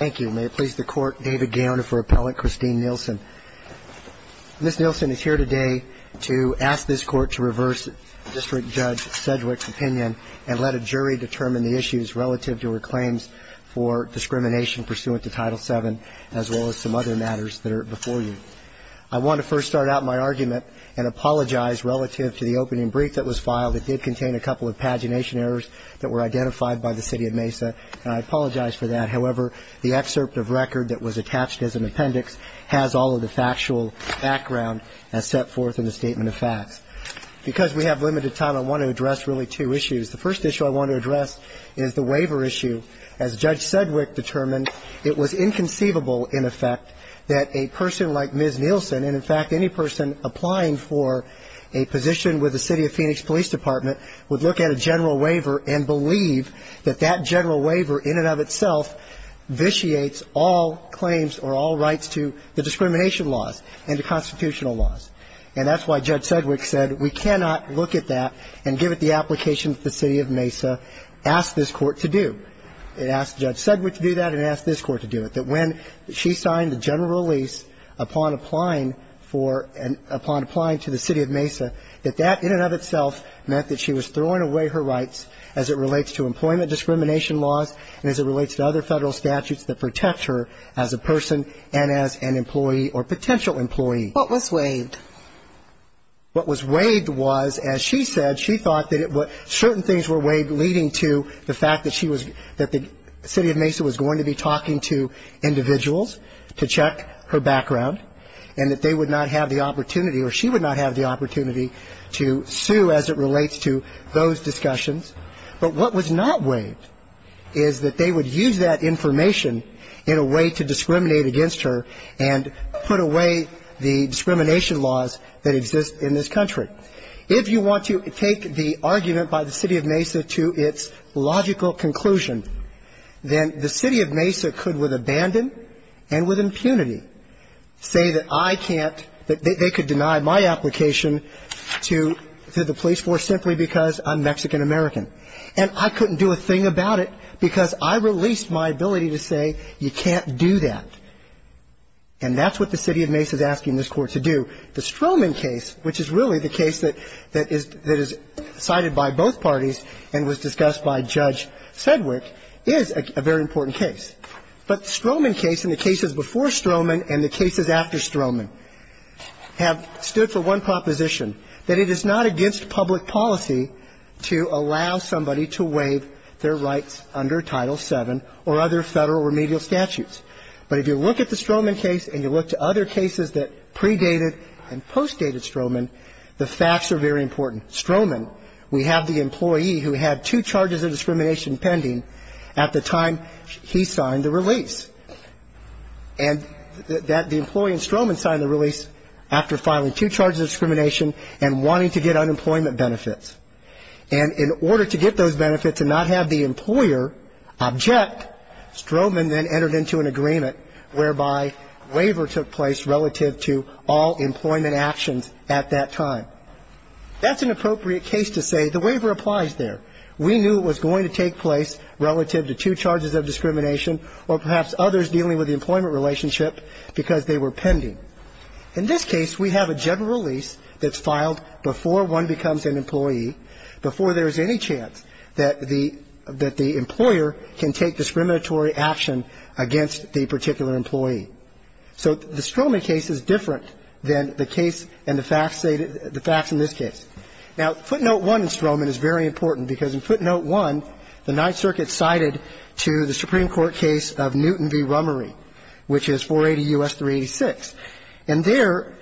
Thank you. May it please the Court, David Gaona for Appellant Christine Nillson. Ms. Nillson is here today to ask this Court to reverse District Judge Sedgwick's opinion and let a jury determine the issues relative to her claims for discrimination pursuant to Title VII, as well as some other matters that are before you. I want to first start out my argument and apologize relative to the opening brief that was filed. It did contain a couple of pagination errors that were identified by the City of Mesa, and I apologize for that. However, the excerpt of record that was attached as an appendix has all of the factual background as set forth in the statement of facts. Because we have limited time, I want to address really two issues. The first issue I want to address is the waiver issue. As Judge Sedgwick determined, it was inconceivable, in effect, that a person like Ms. Nillson, and, in fact, any person applying for a position with the City of Phoenix Police Department, would look at a general waiver and believe that that general waiver in and of itself vitiates all claims or all rights to the discrimination laws and the constitutional laws. And that's why Judge Sedgwick said we cannot look at that and give it the application that the City of Mesa asked this Court to do. It asked Judge Sedgwick to do that, and it asked this Court to do it. That when she signed the general release upon applying for and upon applying to the City of Mesa, that that in and of itself meant that she was throwing away her rights as it relates to employment discrimination laws and as it relates to other Federal statutes that protect her as a person and as an employee or potential employee. What was waived? What was waived was, as she said, she thought that certain things were waived leading to the fact that she was that the City of Mesa was going to be talking to individuals to check her background and that they would not have the opportunity or she would not have the opportunity to sue as it relates to those discussions. But what was not waived is that they would use that information in a way to discriminate against her and put away the discrimination laws that exist in this country. If you want to take the argument by the City of Mesa to its logical conclusion, then the City of Mesa could with abandon and with impunity say that I can't, that they could deny my application to the police force simply because I'm Mexican-American. And I couldn't do a thing about it because I released my ability to say you can't do that. And that's what the City of Mesa is asking this Court to do. The Stroman case, which is really the case that is cited by both parties and was discussed by Judge Sedgwick, is a very important case. But the Stroman case and the cases before Stroman and the cases after Stroman have stood for one proposition, that it is not against public policy to allow somebody to waive their rights under Title VII or other Federal remedial statutes. But if you look at the Stroman case and you look to other cases that predated and postdated Stroman, the facts are very important. We have the employee who had two charges of discrimination pending at the time he signed the release. And that the employee in Stroman signed the release after filing two charges of discrimination and wanting to get unemployment benefits. And in order to get those benefits and not have the employer object, Stroman then entered into an agreement whereby waiver took place relative to all employment actions at that time. That's an appropriate case to say the waiver applies there. We knew it was going to take place relative to two charges of discrimination or perhaps others dealing with the employment relationship because they were pending. In this case, we have a general release that's filed before one becomes an employee, before there is any chance that the employer can take discriminatory action against the particular employee. So the Stroman case is different than the case and the facts in this case. Now, footnote one in Stroman is very important because in footnote one, the Ninth Circuit cited to the Supreme Court case of Newton v. Rummery, which is 480 U.S. 386. And there,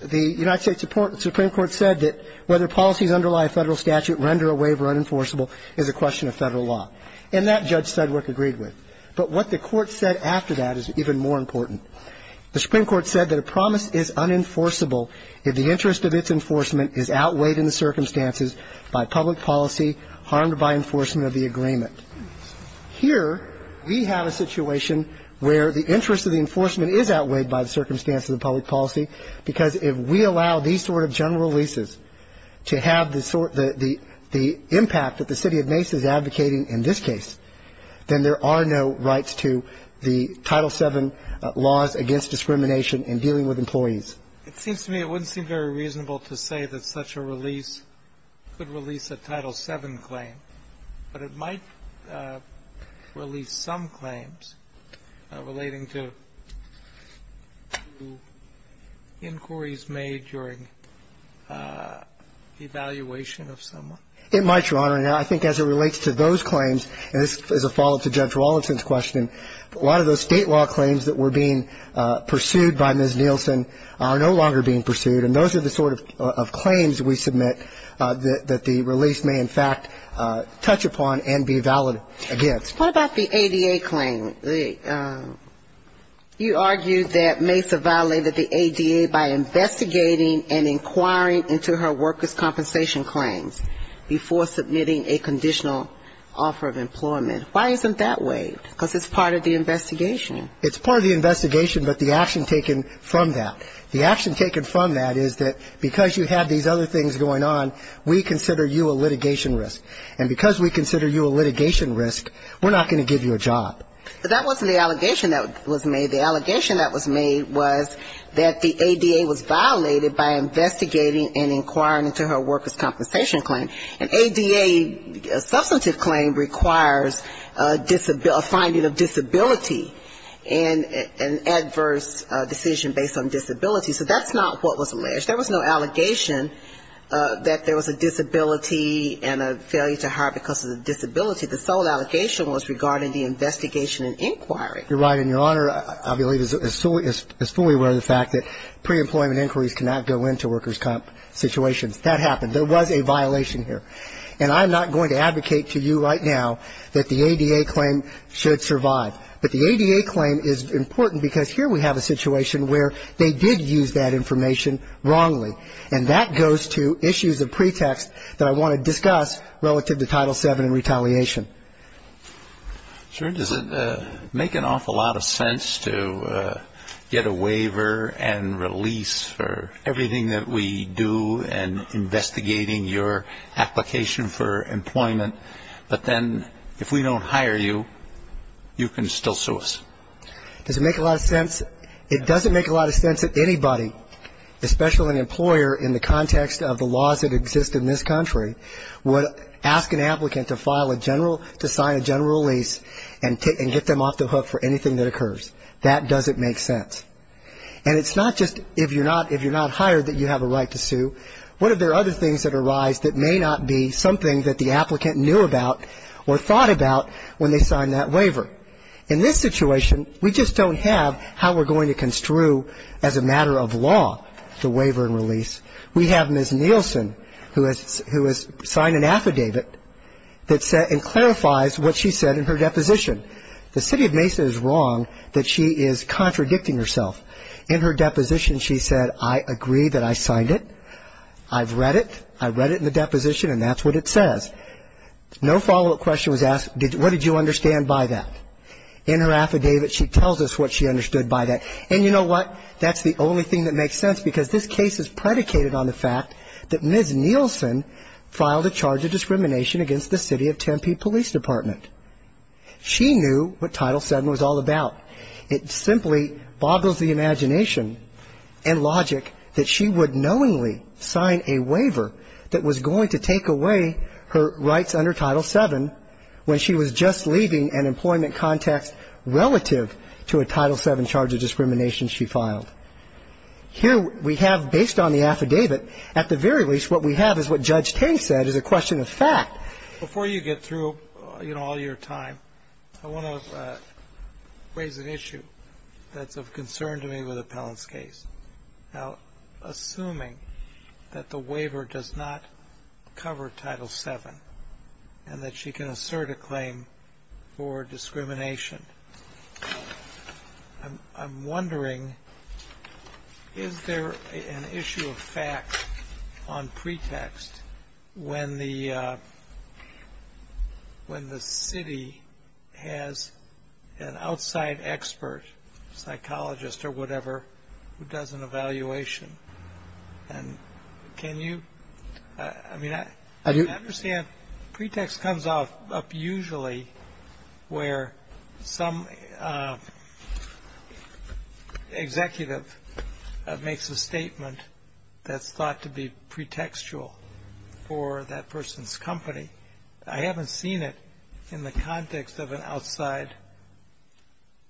the United States Supreme Court said that whether policies underlie a Federal statute render a waiver unenforceable is a question of Federal law. And that Judge Sedgwick agreed with. But what the Court said after that is even more important. The Supreme Court said that a promise is unenforceable if the interest of its enforcement is outweighed in the circumstances by public policy harmed by enforcement of the agreement. Here, we have a situation where the interest of the enforcement is outweighed by the circumstance of the public policy because if we allow these sort of general releases to have the sort then there are no rights to the Title VII laws against discrimination in dealing with employees. It seems to me it wouldn't seem very reasonable to say that such a release could release a Title VII claim, but it might release some claims relating to inquiries It might, Your Honor. I think as it relates to those claims, and this is a follow-up to Judge Rawlinson's question, a lot of those State law claims that were being pursued by Ms. Nielsen are no longer being pursued, and those are the sort of claims we submit that the release may in fact touch upon and be valid against. What about the ADA claim? You argued that Mesa violated the ADA by investigating and inquiring into her workers' compensation claims before submitting a conditional offer of employment. Why isn't that waived? Because it's part of the investigation. It's part of the investigation, but the action taken from that. The action taken from that is that because you have these other things going on, we consider you a litigation risk. And because we consider you a litigation risk, we're not going to give you a job. But that wasn't the allegation that was made. The allegation that was made was that the ADA was violated by investigating and inquiring into her workers' compensation claim. An ADA substantive claim requires a disability, a finding of disability, and an adverse decision based on disability. So that's not what was alleged. There was no allegation that there was a disability and a failure to hire because of the disability. The sole allegation was regarding the investigation and inquiry. You're right, and Your Honor, I believe, is fully aware of the fact that pre-employment inquiries cannot go into workers' compensation situations. That happened. There was a violation here. And I'm not going to advocate to you right now that the ADA claim should survive. But the ADA claim is important because here we have a situation where they did use that information wrongly. And that goes to issues of pretext that I want to discuss relative to Title VII and retaliation. Your Honor, does it make an awful lot of sense to get a waiver and release for everything that we do in investigating your application for employment, but then if we don't hire you, you can still sue us? Does it make a lot of sense? It doesn't make a lot of sense that anybody, especially an employer in the context of the general release and get them off the hook for anything that occurs. That doesn't make sense. And it's not just if you're not hired that you have a right to sue. What if there are other things that arise that may not be something that the applicant knew about or thought about when they signed that waiver? In this situation, we just don't have how we're going to construe as a matter of law the waiver and release. We have Ms. Nielsen who has signed an affidavit that said and clarifies what she said in her deposition. The city of Mason is wrong that she is contradicting herself. In her deposition, she said, I agree that I signed it. I've read it. I read it in the deposition, and that's what it says. No follow-up question was asked, what did you understand by that? In her affidavit, she tells us what she understood by that. And you know what? That's the only thing that makes sense because this case is predicated on the fact that Ms. Nielsen filed a charge of discrimination against the city of Tempe Police Department. She knew what Title VII was all about. It simply boggles the imagination and logic that she would knowingly sign a waiver that was going to take away her rights under Title VII when she was just leaving an employment context relative to a Title VII charge of discrimination she filed. Here we have, based on the affidavit, at the very least what we have is what Judge Tate said is a question of fact. Before you get through, you know, all your time, I want to raise an issue that's of concern to me with Appellant's case. Now, assuming that the waiver does not cover Title VII and that she can assert a claim for discrimination, I'm wondering, is there an issue of fact on pretext when the city has an outside expert, psychologist or whatever, who does an evaluation? And can you, I mean, I understand pretext comes up usually where some executive makes a statement that's thought to be pretextual for that person's company. I haven't seen it in the context of an outside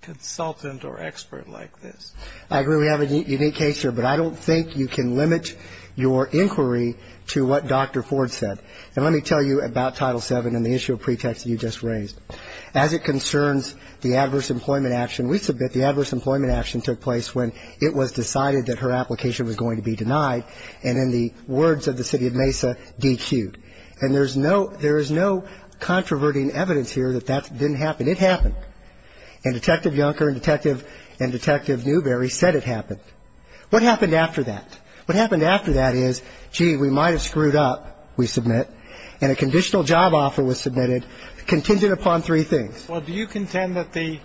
consultant or expert like this. I agree we have a unique case here, but I don't think you can limit your inquiry to what Dr. Ford said. And let me tell you about Title VII and the issue of pretext that you just raised. As it concerns the adverse employment action, we submit the adverse employment action took place when it was decided that her application was going to be denied, and in the words of the city of Mesa, dequeued. And there is no controverting evidence here that that didn't happen. And it happened. And Detective Junker and Detective Newberry said it happened. What happened after that? What happened after that is, gee, we might have screwed up, we submit, and a conditional job offer was submitted contingent upon three things. Well, do you contend that the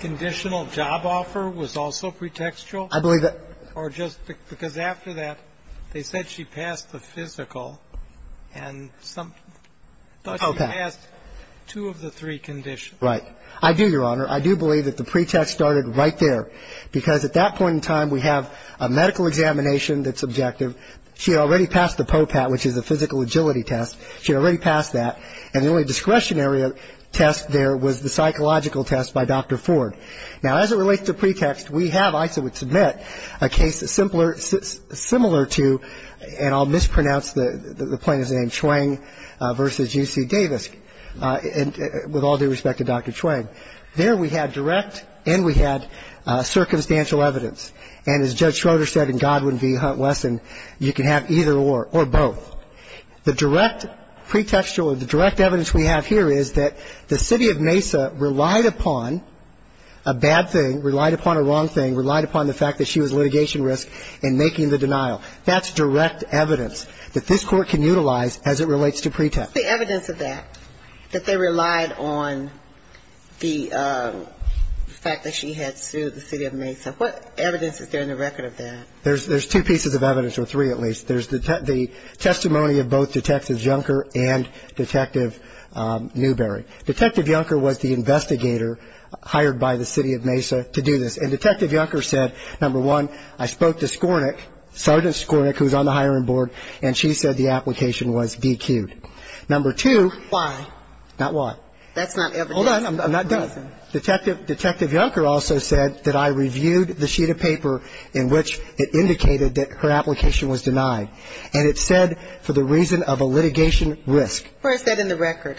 conditional job offer was also pretextual? I believe that. Or just because after that they said she passed the physical, and some thought she passed two of the three conditions. Right. I do, Your Honor. I do believe that the pretext started right there, because at that point in time we have a medical examination that's objective. She had already passed the POPAT, which is a physical agility test. She had already passed that, and the only discretionary test there was the psychological test by Dr. Ford. Now, as it relates to pretext, we have, I would submit, a case similar to, and I'll mispronounce the plaintiff's name, Chuang v. UC Davis, with all due respect to Dr. Chuang. There we had direct and we had circumstantial evidence. And as Judge Schroeder said in Godwin v. Hunt Wesson, you can have either or, or both. The direct pretextual, the direct evidence we have here is that the city of Mesa relied upon a bad thing, relied upon a wrong thing, relied upon the fact that she was litigation risk in making the denial. That's direct evidence that this Court can utilize as it relates to pretext. The evidence of that, that they relied on the fact that she had sued the city of Mesa, what evidence is there in the record of that? There's two pieces of evidence, or three at least. There's the testimony of both Detective Junker and Detective Newberry. Detective Junker was the investigator hired by the city of Mesa to do this. And Detective Junker said, number one, I spoke to Skornick, Sergeant Skornick, who's on the hiring board, and she said the application was DQed. Number two. Why? Not why. That's not evidence. Hold on. I'm not done. Detective Junker also said that I reviewed the sheet of paper in which it indicated that her application was denied. And it said, for the reason of a litigation risk. Where is that in the record?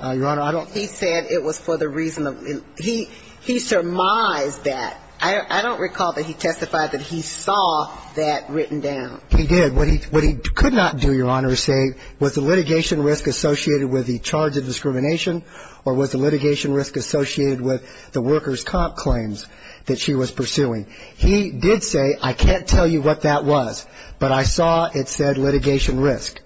Your Honor, I don't know. He said it was for the reason of the reason. He surmised that. I don't recall that he testified that he saw that written down. He did. What he could not do, Your Honor, is say was the litigation risk associated with the charge of discrimination or was the litigation risk associated with the workers' comp claims that she was pursuing. He did say, I can't tell you what that was, but I saw it said litigation risk.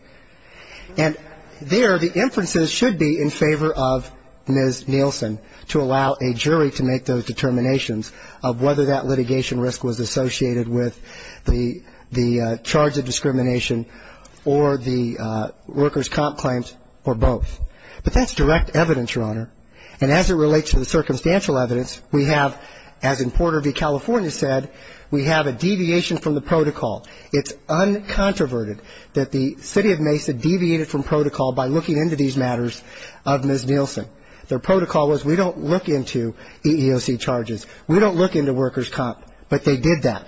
And there the inferences should be in favor of Ms. Nielsen to allow a jury to make those determinations of whether that litigation risk was associated with the charge of discrimination or the workers' comp claims or both. But that's direct evidence, Your Honor. And as it relates to the circumstantial evidence, we have, as in Porter v. California said, we have a deviation from the protocol. It's uncontroverted that the city of Mesa deviated from protocol by looking into these matters of Ms. Nielsen. Their protocol was we don't look into EEOC charges. We don't look into workers' comp, but they did that.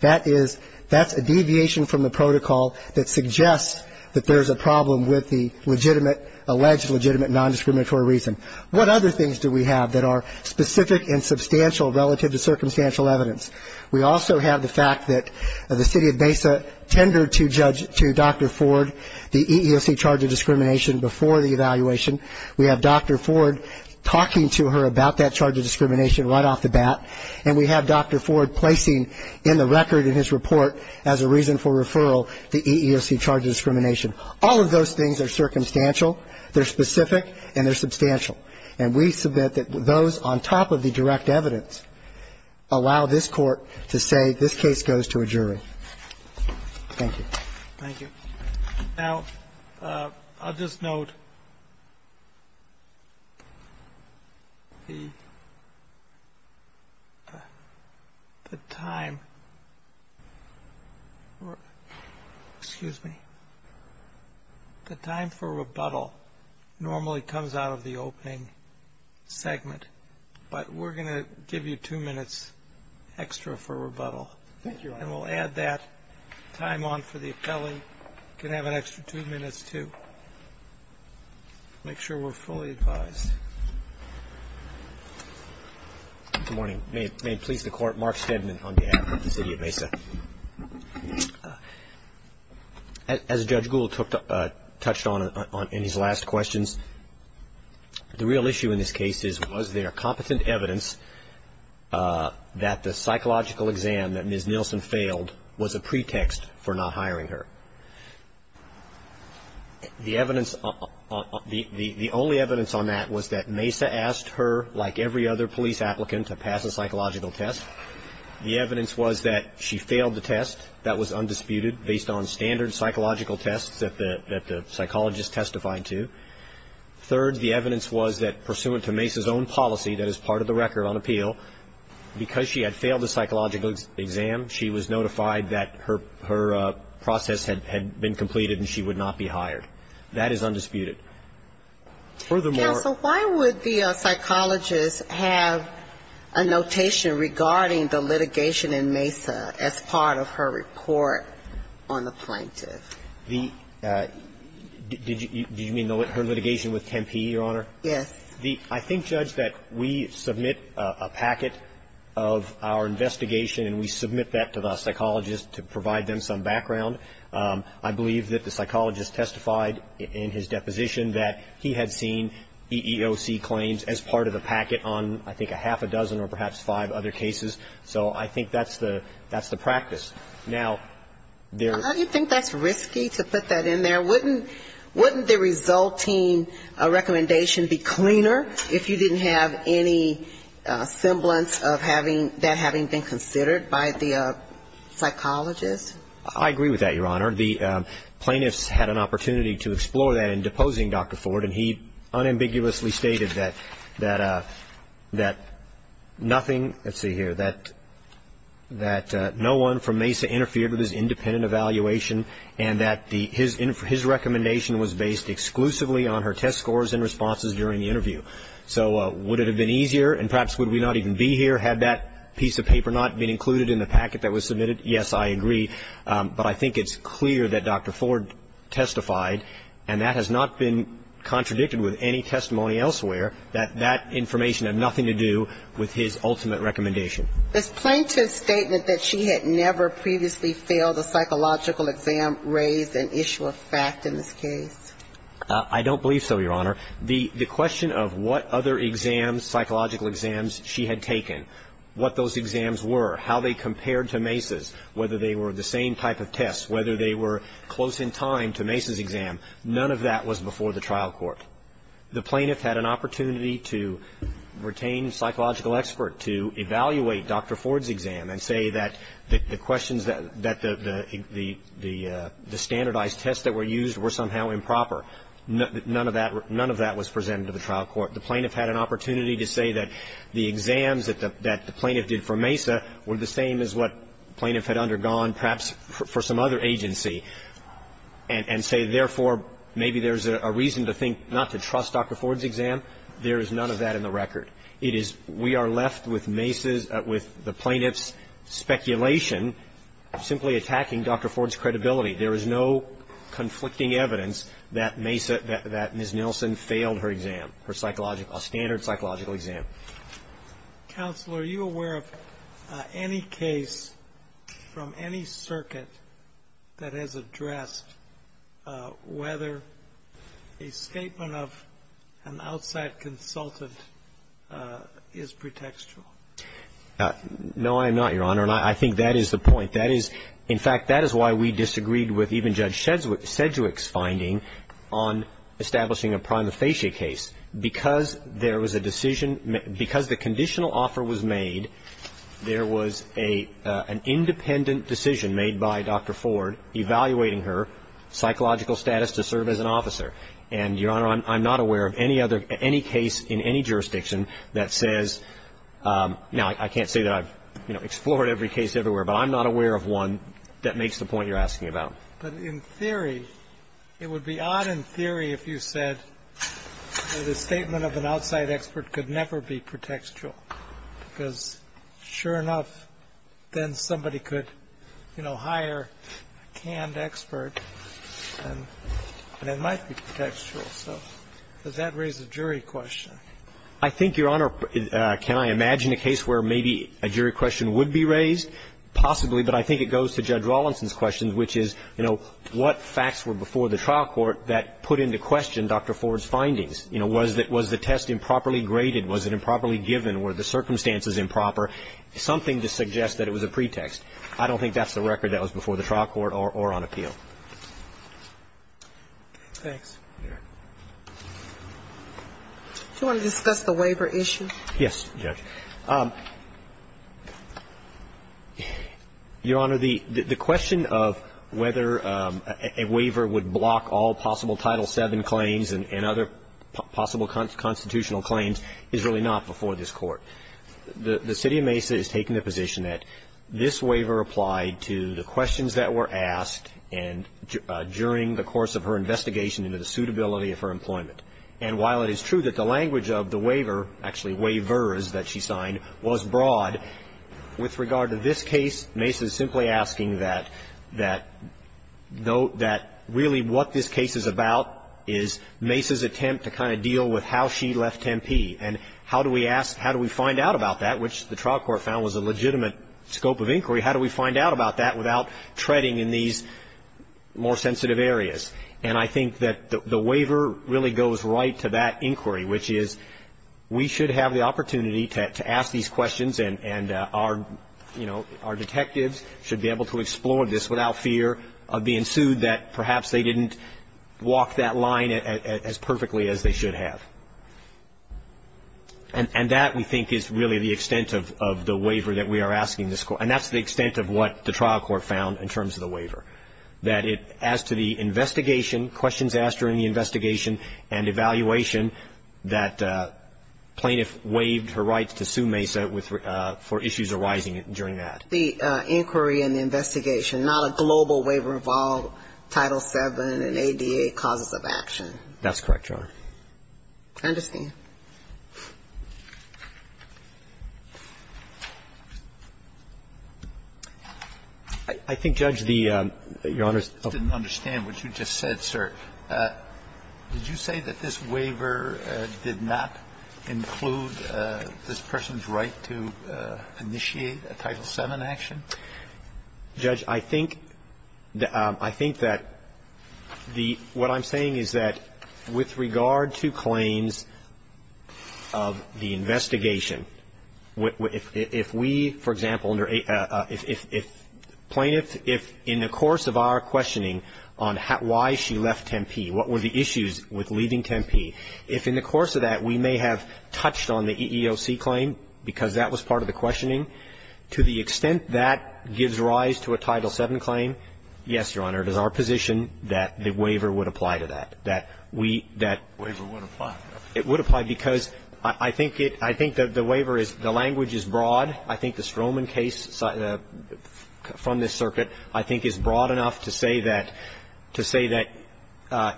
That is, that's a deviation from the protocol that suggests that there's a problem with the legitimate, alleged legitimate nondiscriminatory reason. What other things do we have that are specific and substantial relative to circumstantial evidence? We also have the fact that the city of Mesa tendered to judge, to Dr. Ford, the EEOC charge of discrimination before the evaluation. We have Dr. Ford talking to her about that charge of discrimination right off the bat, and we have Dr. Ford placing in the record in his report as a reason for referral the EEOC charge of discrimination. All of those things are circumstantial, they're specific, and they're substantial. And we submit that those, on top of the direct evidence, allow this Court to say this case goes to a jury. Thank you. Thank you. Now, I'll just note the time for rebuttal normally comes out of the opening segment, but we're going to give you two minutes extra for rebuttal. Thank you, Your Honor. And we'll add that time on for the appellee can have an extra two minutes to make sure we're fully advised. Good morning. May it please the Court, Mark Stedman on behalf of the city of Mesa. As Judge Gould touched on in his last questions, the real issue in this case is, was there competent evidence that the psychological exam that Ms. Nilsen failed was a pretext for not hiring her? The evidence, the only evidence on that was that Mesa asked her, like every other police applicant, to pass a psychological test. The evidence was that she failed the test. That was undisputed based on standard psychological tests that the psychologist testified to. Third, the evidence was that, pursuant to Mesa's own policy, that is part of the record on appeal, because she had failed the psychological exam, she was notified that her process had been completed and she would not be hired. That is undisputed. Furthermore ---- The question is, did the psychologist testify to the fact that she had failed the psychological exam, and did she report on the plaintiff? The ---- Did you mean her litigation with Tempe, Your Honor? Yes. The ---- I think, Judge, that we submit a packet of our investigation, and we submit that to the psychologist to provide them some background. I believe that the psychologist testified in his deposition that he had seen EEOC claims as part of the packet on, I think, a half a dozen or perhaps five other cases. So I think that's the practice. Now, there ---- How do you think that's risky to put that in there? Wouldn't the resulting recommendation be cleaner if you didn't have any semblance of having that having been considered by the psychologist? I agree with that, Your Honor. The plaintiffs had an opportunity to explore that in deposing Dr. Ford, and he unambiguously stated that nothing ---- let's see here, that no one from MESA interfered with his independent evaluation and that his recommendation was based exclusively on her test scores and responses during the interview. So would it have been easier? And perhaps would we not even be here had that piece of paper not been included in the packet that was submitted? Yes, I agree. But I think it's clear that Dr. Ford testified, and that has not been contradicted with any testimony elsewhere, that that information had nothing to do with his ultimate recommendation. This plaintiff's statement that she had never previously failed a psychological exam raised an issue of fact in this case? I don't believe so, Your Honor. The question of what other exams, psychological exams, she had taken, what those exams were, how they compared to MESA's, whether they were the same type of tests, whether they were close in time to MESA's exam, none of that was before the trial court. The plaintiff had an opportunity to retain psychological expert to evaluate Dr. Ford's exam and say that the questions that the standardized tests that were used were somehow improper. None of that was presented to the trial court. The plaintiff had an opportunity to say that the exams that the plaintiff did for MESA were the same as what the plaintiff had undergone perhaps for some other agency and say, therefore, maybe there's a reason to think not to trust Dr. Ford's exam. There is none of that in the record. It is we are left with MESA's, with the plaintiff's speculation simply attacking Dr. Ford's credibility. There is no conflicting evidence that MESA, that Ms. Nelson failed her exam, her psychological, standard psychological exam. Counsel, are you aware of any case from any circuit that has addressed whether a statement of an outside consultant is pretextual? No, I am not, Your Honor. And I think that is the point. That is, in fact, that is why we disagreed with even Judge Sedgwick's finding on establishing a prima facie case. Because there was a decision, because the conditional offer was made, there was an independent decision made by Dr. Ford evaluating her psychological status to serve as an officer. And, Your Honor, I'm not aware of any other, any case in any jurisdiction that says, now, I can't say that I've, you know, explored every case everywhere, but I'm not aware of one that makes the point you're asking about. But in theory, it would be odd in theory if you said that a statement of an outside expert could never be pretextual. Because sure enough, then somebody could, you know, hire a canned expert, and it might be pretextual. So does that raise a jury question? I think, Your Honor, can I imagine a case where maybe a jury question would be raised? Possibly, but I think it goes to Judge Rawlinson's question, which is, you know, what facts were before the trial court that put into question Dr. Ford's findings? You know, was the test improperly graded? Was it improperly given? Were the circumstances improper? Something to suggest that it was a pretext. I don't think that's the record that was before the trial court or on appeal. Thanks. Do you want to discuss the waiver issue? Yes, Judge. Your Honor, the question of whether a waiver would block all possible Title VII claims and other possible constitutional claims is really not before this Court. The city of Mesa is taking the position that this waiver applied to the questions that were asked during the course of her investigation into the suitability of her employment. And while it is true that the language of the waiver, actually waivers that she signed, was broad, with regard to this case, Mesa is simply asking that really what this case is about is Mesa's attempt to kind of deal with how she left Tempe. And how do we find out about that, which the trial court found was a legitimate scope of inquiry, how do we find out about that without treading in these more sensitive areas? And I think that the waiver really goes right to that inquiry, which is we should have the opportunity to ask these questions and our, you know, our detectives should be able to explore this without fear of being sued that perhaps they didn't walk that line as perfectly as they should have. And that, we think, is really the extent of the waiver that we are asking this Court. And that's the extent of what the trial court found in terms of the waiver, that as to the investigation, questions asked during the investigation and evaluation, that plaintiff waived her rights to sue Mesa for issues arising during that. The inquiry and the investigation, not a global waiver involved Title VII and ADA causes of action. That's correct, Your Honor. I understand. I think, Judge, the Your Honor's didn't understand what you just said, sir. Did you say that this waiver did not include this person's right to initiate a Title VII action? Judge, I think that the what I'm saying is that with regard to claims of the investigation, if we, for example, under if plaintiff, if in the course of our questioning on why she left Tempe, what were the issues with leaving Tempe, if in the course of that we may have touched on the EEOC claim because that was part of the questioning, to the extent that gives rise to a Title VII claim, yes, Your Honor, it is our position that the waiver would apply to that, that we, that. The waiver would apply. It would apply because I think it, I think that the waiver is, the language is broad. I think the Stroman case from this circuit I think is broad enough to say that, to say that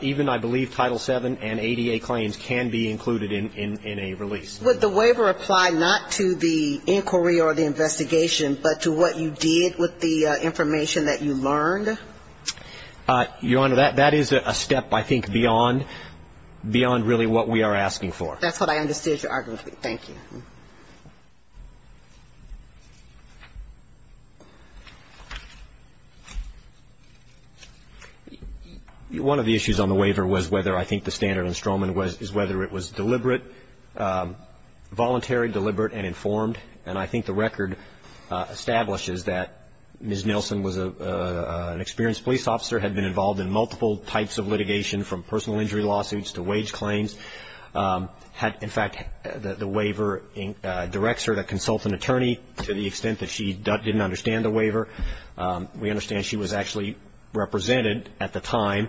even I believe Title VII and ADA claims can be included in a release. Would the waiver apply not to the inquiry or the investigation, but to what you did with the information that you learned? Your Honor, that is a step, I think, beyond really what we are asking for. That's what I understood your argument to be. Thank you. One of the issues on the waiver was whether I think the standard in Stroman is whether it was deliberate, voluntary, deliberate, and informed. And I think the record establishes that Ms. Nilsen was an experienced police officer, had been involved in multiple types of litigation from personal injury lawsuits to wage claims, had, in fact, the waiver directs her to consult an attorney to the extent that she didn't understand the waiver. We understand she was actually represented at the time.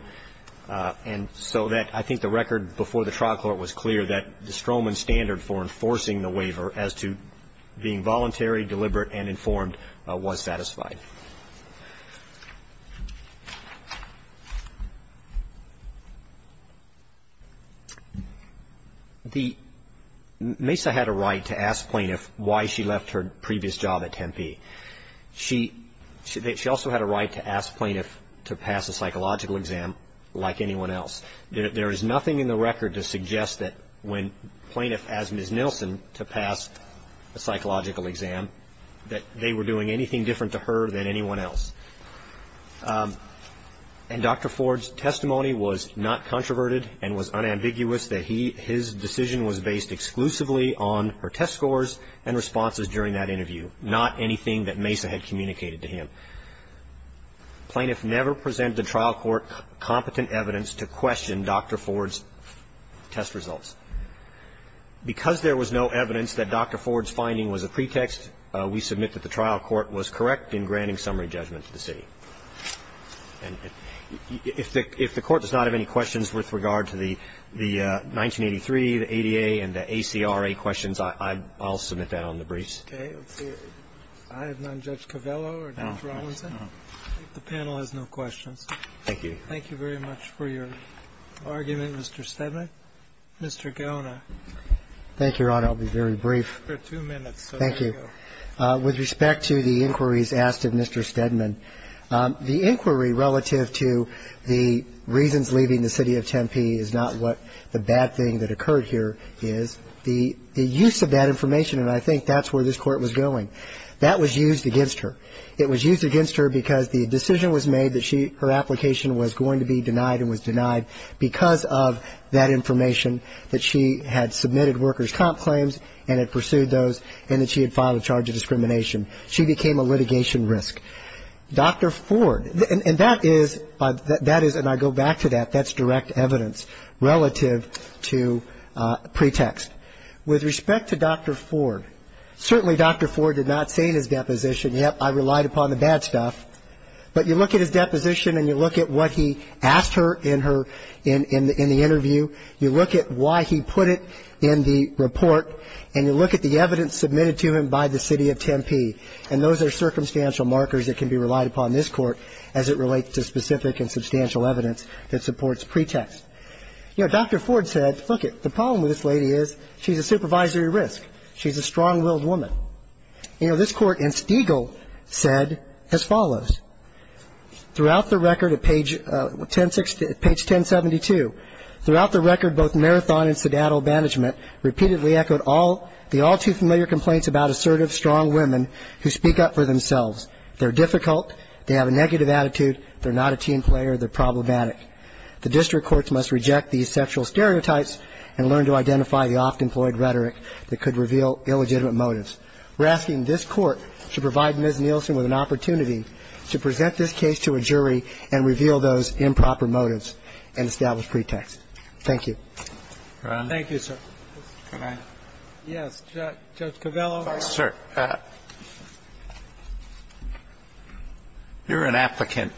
And so that I think the record before the trial court was clear that the Stroman standard for enforcing the waiver as to being voluntary, deliberate, and informed was satisfied. Thank you. Mesa had a right to ask plaintiffs why she left her previous job at Tempe. She also had a right to ask plaintiffs to pass a psychological exam like anyone else. There is nothing in the record to suggest that when plaintiffs asked Ms. Nilsen to pass a psychological exam, that they were doing anything different to her than anyone else. And Dr. Ford's testimony was not controverted and was unambiguous, that his decision was based exclusively on her test scores and responses during that interview, not anything that Mesa had communicated to him. Plaintiffs never presented to trial court competent evidence to question Dr. Ford's test results. Because there was no evidence that Dr. Ford's finding was a pretext, we submit that the trial court was correct in granting summary judgment to the city. And if the Court does not have any questions with regard to the 1983, the ADA, and the ACRA questions, I'll submit that on the briefs. Okay. I have none. Judge Covello or Judge Rawlinson? The panel has no questions. Thank you. Thank you very much for your argument, Mr. Stedman. Mr. Gona. Thank you, Your Honor. I'll be very brief. Two minutes. Thank you. With respect to the inquiries asked of Mr. Stedman, the inquiry relative to the reasons leaving the city of Tempe is not what the bad thing that occurred here is. The use of that information, and I think that's where this Court was going, that was used against her. It was used against her because the decision was made that her application was going to be denied and was denied because of that information that she had submitted workers' comp claims and had pursued those and that she had filed a charge of discrimination. She became a litigation risk. Dr. Ford, and that is, and I go back to that, that's direct evidence relative to pretext. With respect to Dr. Ford, certainly Dr. Ford did not say in his deposition, yes, I relied upon the bad stuff. But you look at his deposition and you look at what he asked her in her, in the interview, you look at why he put it in the report, and you look at the evidence submitted to him by the city of Tempe, and those are circumstantial markers that can be relied upon in this Court as it relates to specific and substantial evidence that supports pretext. You know, Dr. Ford said, lookit, the problem with this lady is she's a supervisory She's a strong-willed woman. You know, this Court in Stegall said as follows. Throughout the record at page 1072, throughout the record, both Marathon and Sedato Management repeatedly echoed the all-too-familiar complaints about assertive, strong women who speak up for themselves. They're difficult. They have a negative attitude. They're not a team player. They're problematic. The district courts must reject these sexual stereotypes and learn to identify the oft-employed that could reveal illegitimate motives. We're asking this Court to provide Ms. Nielsen with an opportunity to present this case to a jury and reveal those improper motives and establish pretext. Thank you. Roberts. Thank you, sir. Can I? Yes. Judge Covello. Sir, you're an applicant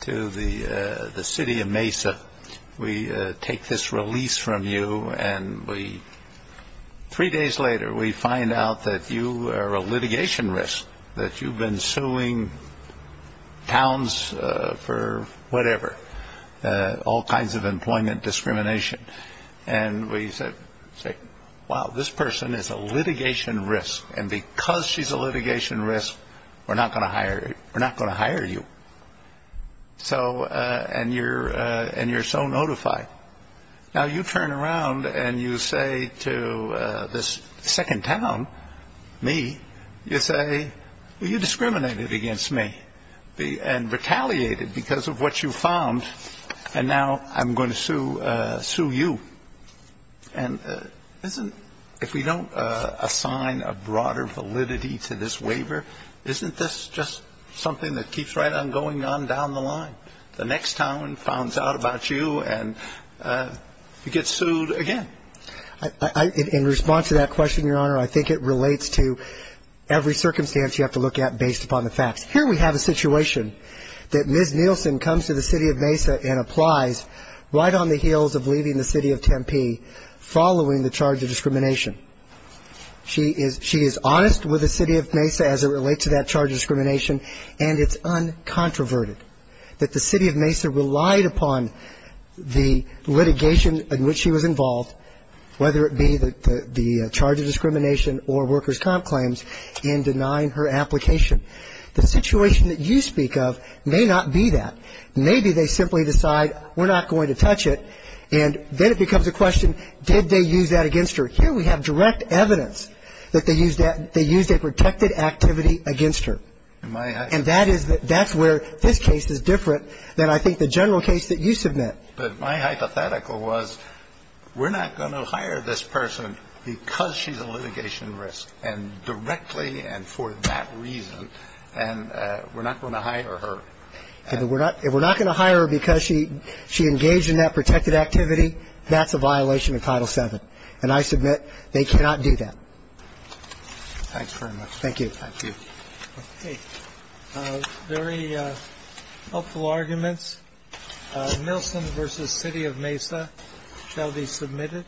to the city of Mesa. We take this release from you, and three days later, we find out that you are a litigation risk, that you've been suing towns for whatever, all kinds of employment discrimination. And we say, wow, this person is a litigation risk, and because she's a litigation risk, we're not going to hire you. And you're so notified. Now you turn around and you say to this second town, me, you say, well, you discriminated against me and retaliated because of what you found, and now I'm going to sue you. And if we don't assign a broader validity to this waiver, isn't this just something that keeps right on going on down the line? The next town finds out about you, and you get sued again. In response to that question, Your Honor, I think it relates to every circumstance you have to look at based upon the facts. Here we have a situation that Ms. Nielsen comes to the city of Mesa and applies right on the heels of leaving the city of Tempe following the charge of discrimination. She is honest with the city of Mesa as it relates to that charge of discrimination, and it's uncontroverted that the city of Mesa relied upon the litigation in which she was involved, whether it be the charge of discrimination or workers' comp claims, in denying her application. The situation that you speak of may not be that. Maybe they simply decide we're not going to touch it, and then it becomes a question, did they use that against her? Here we have direct evidence that they used a protected activity against her. And that's where this case is different than I think the general case that you submit. But my hypothetical was we're not going to hire this person because she's a litigation risk, and directly and for that reason, and we're not going to hire her. If we're not going to hire her because she engaged in that protected activity, that's a violation of Title VII. And I submit they cannot do that. Thanks very much. Thank you. Thank you. Okay. Very helpful arguments. Nelson v. City of Mesa shall be submitted.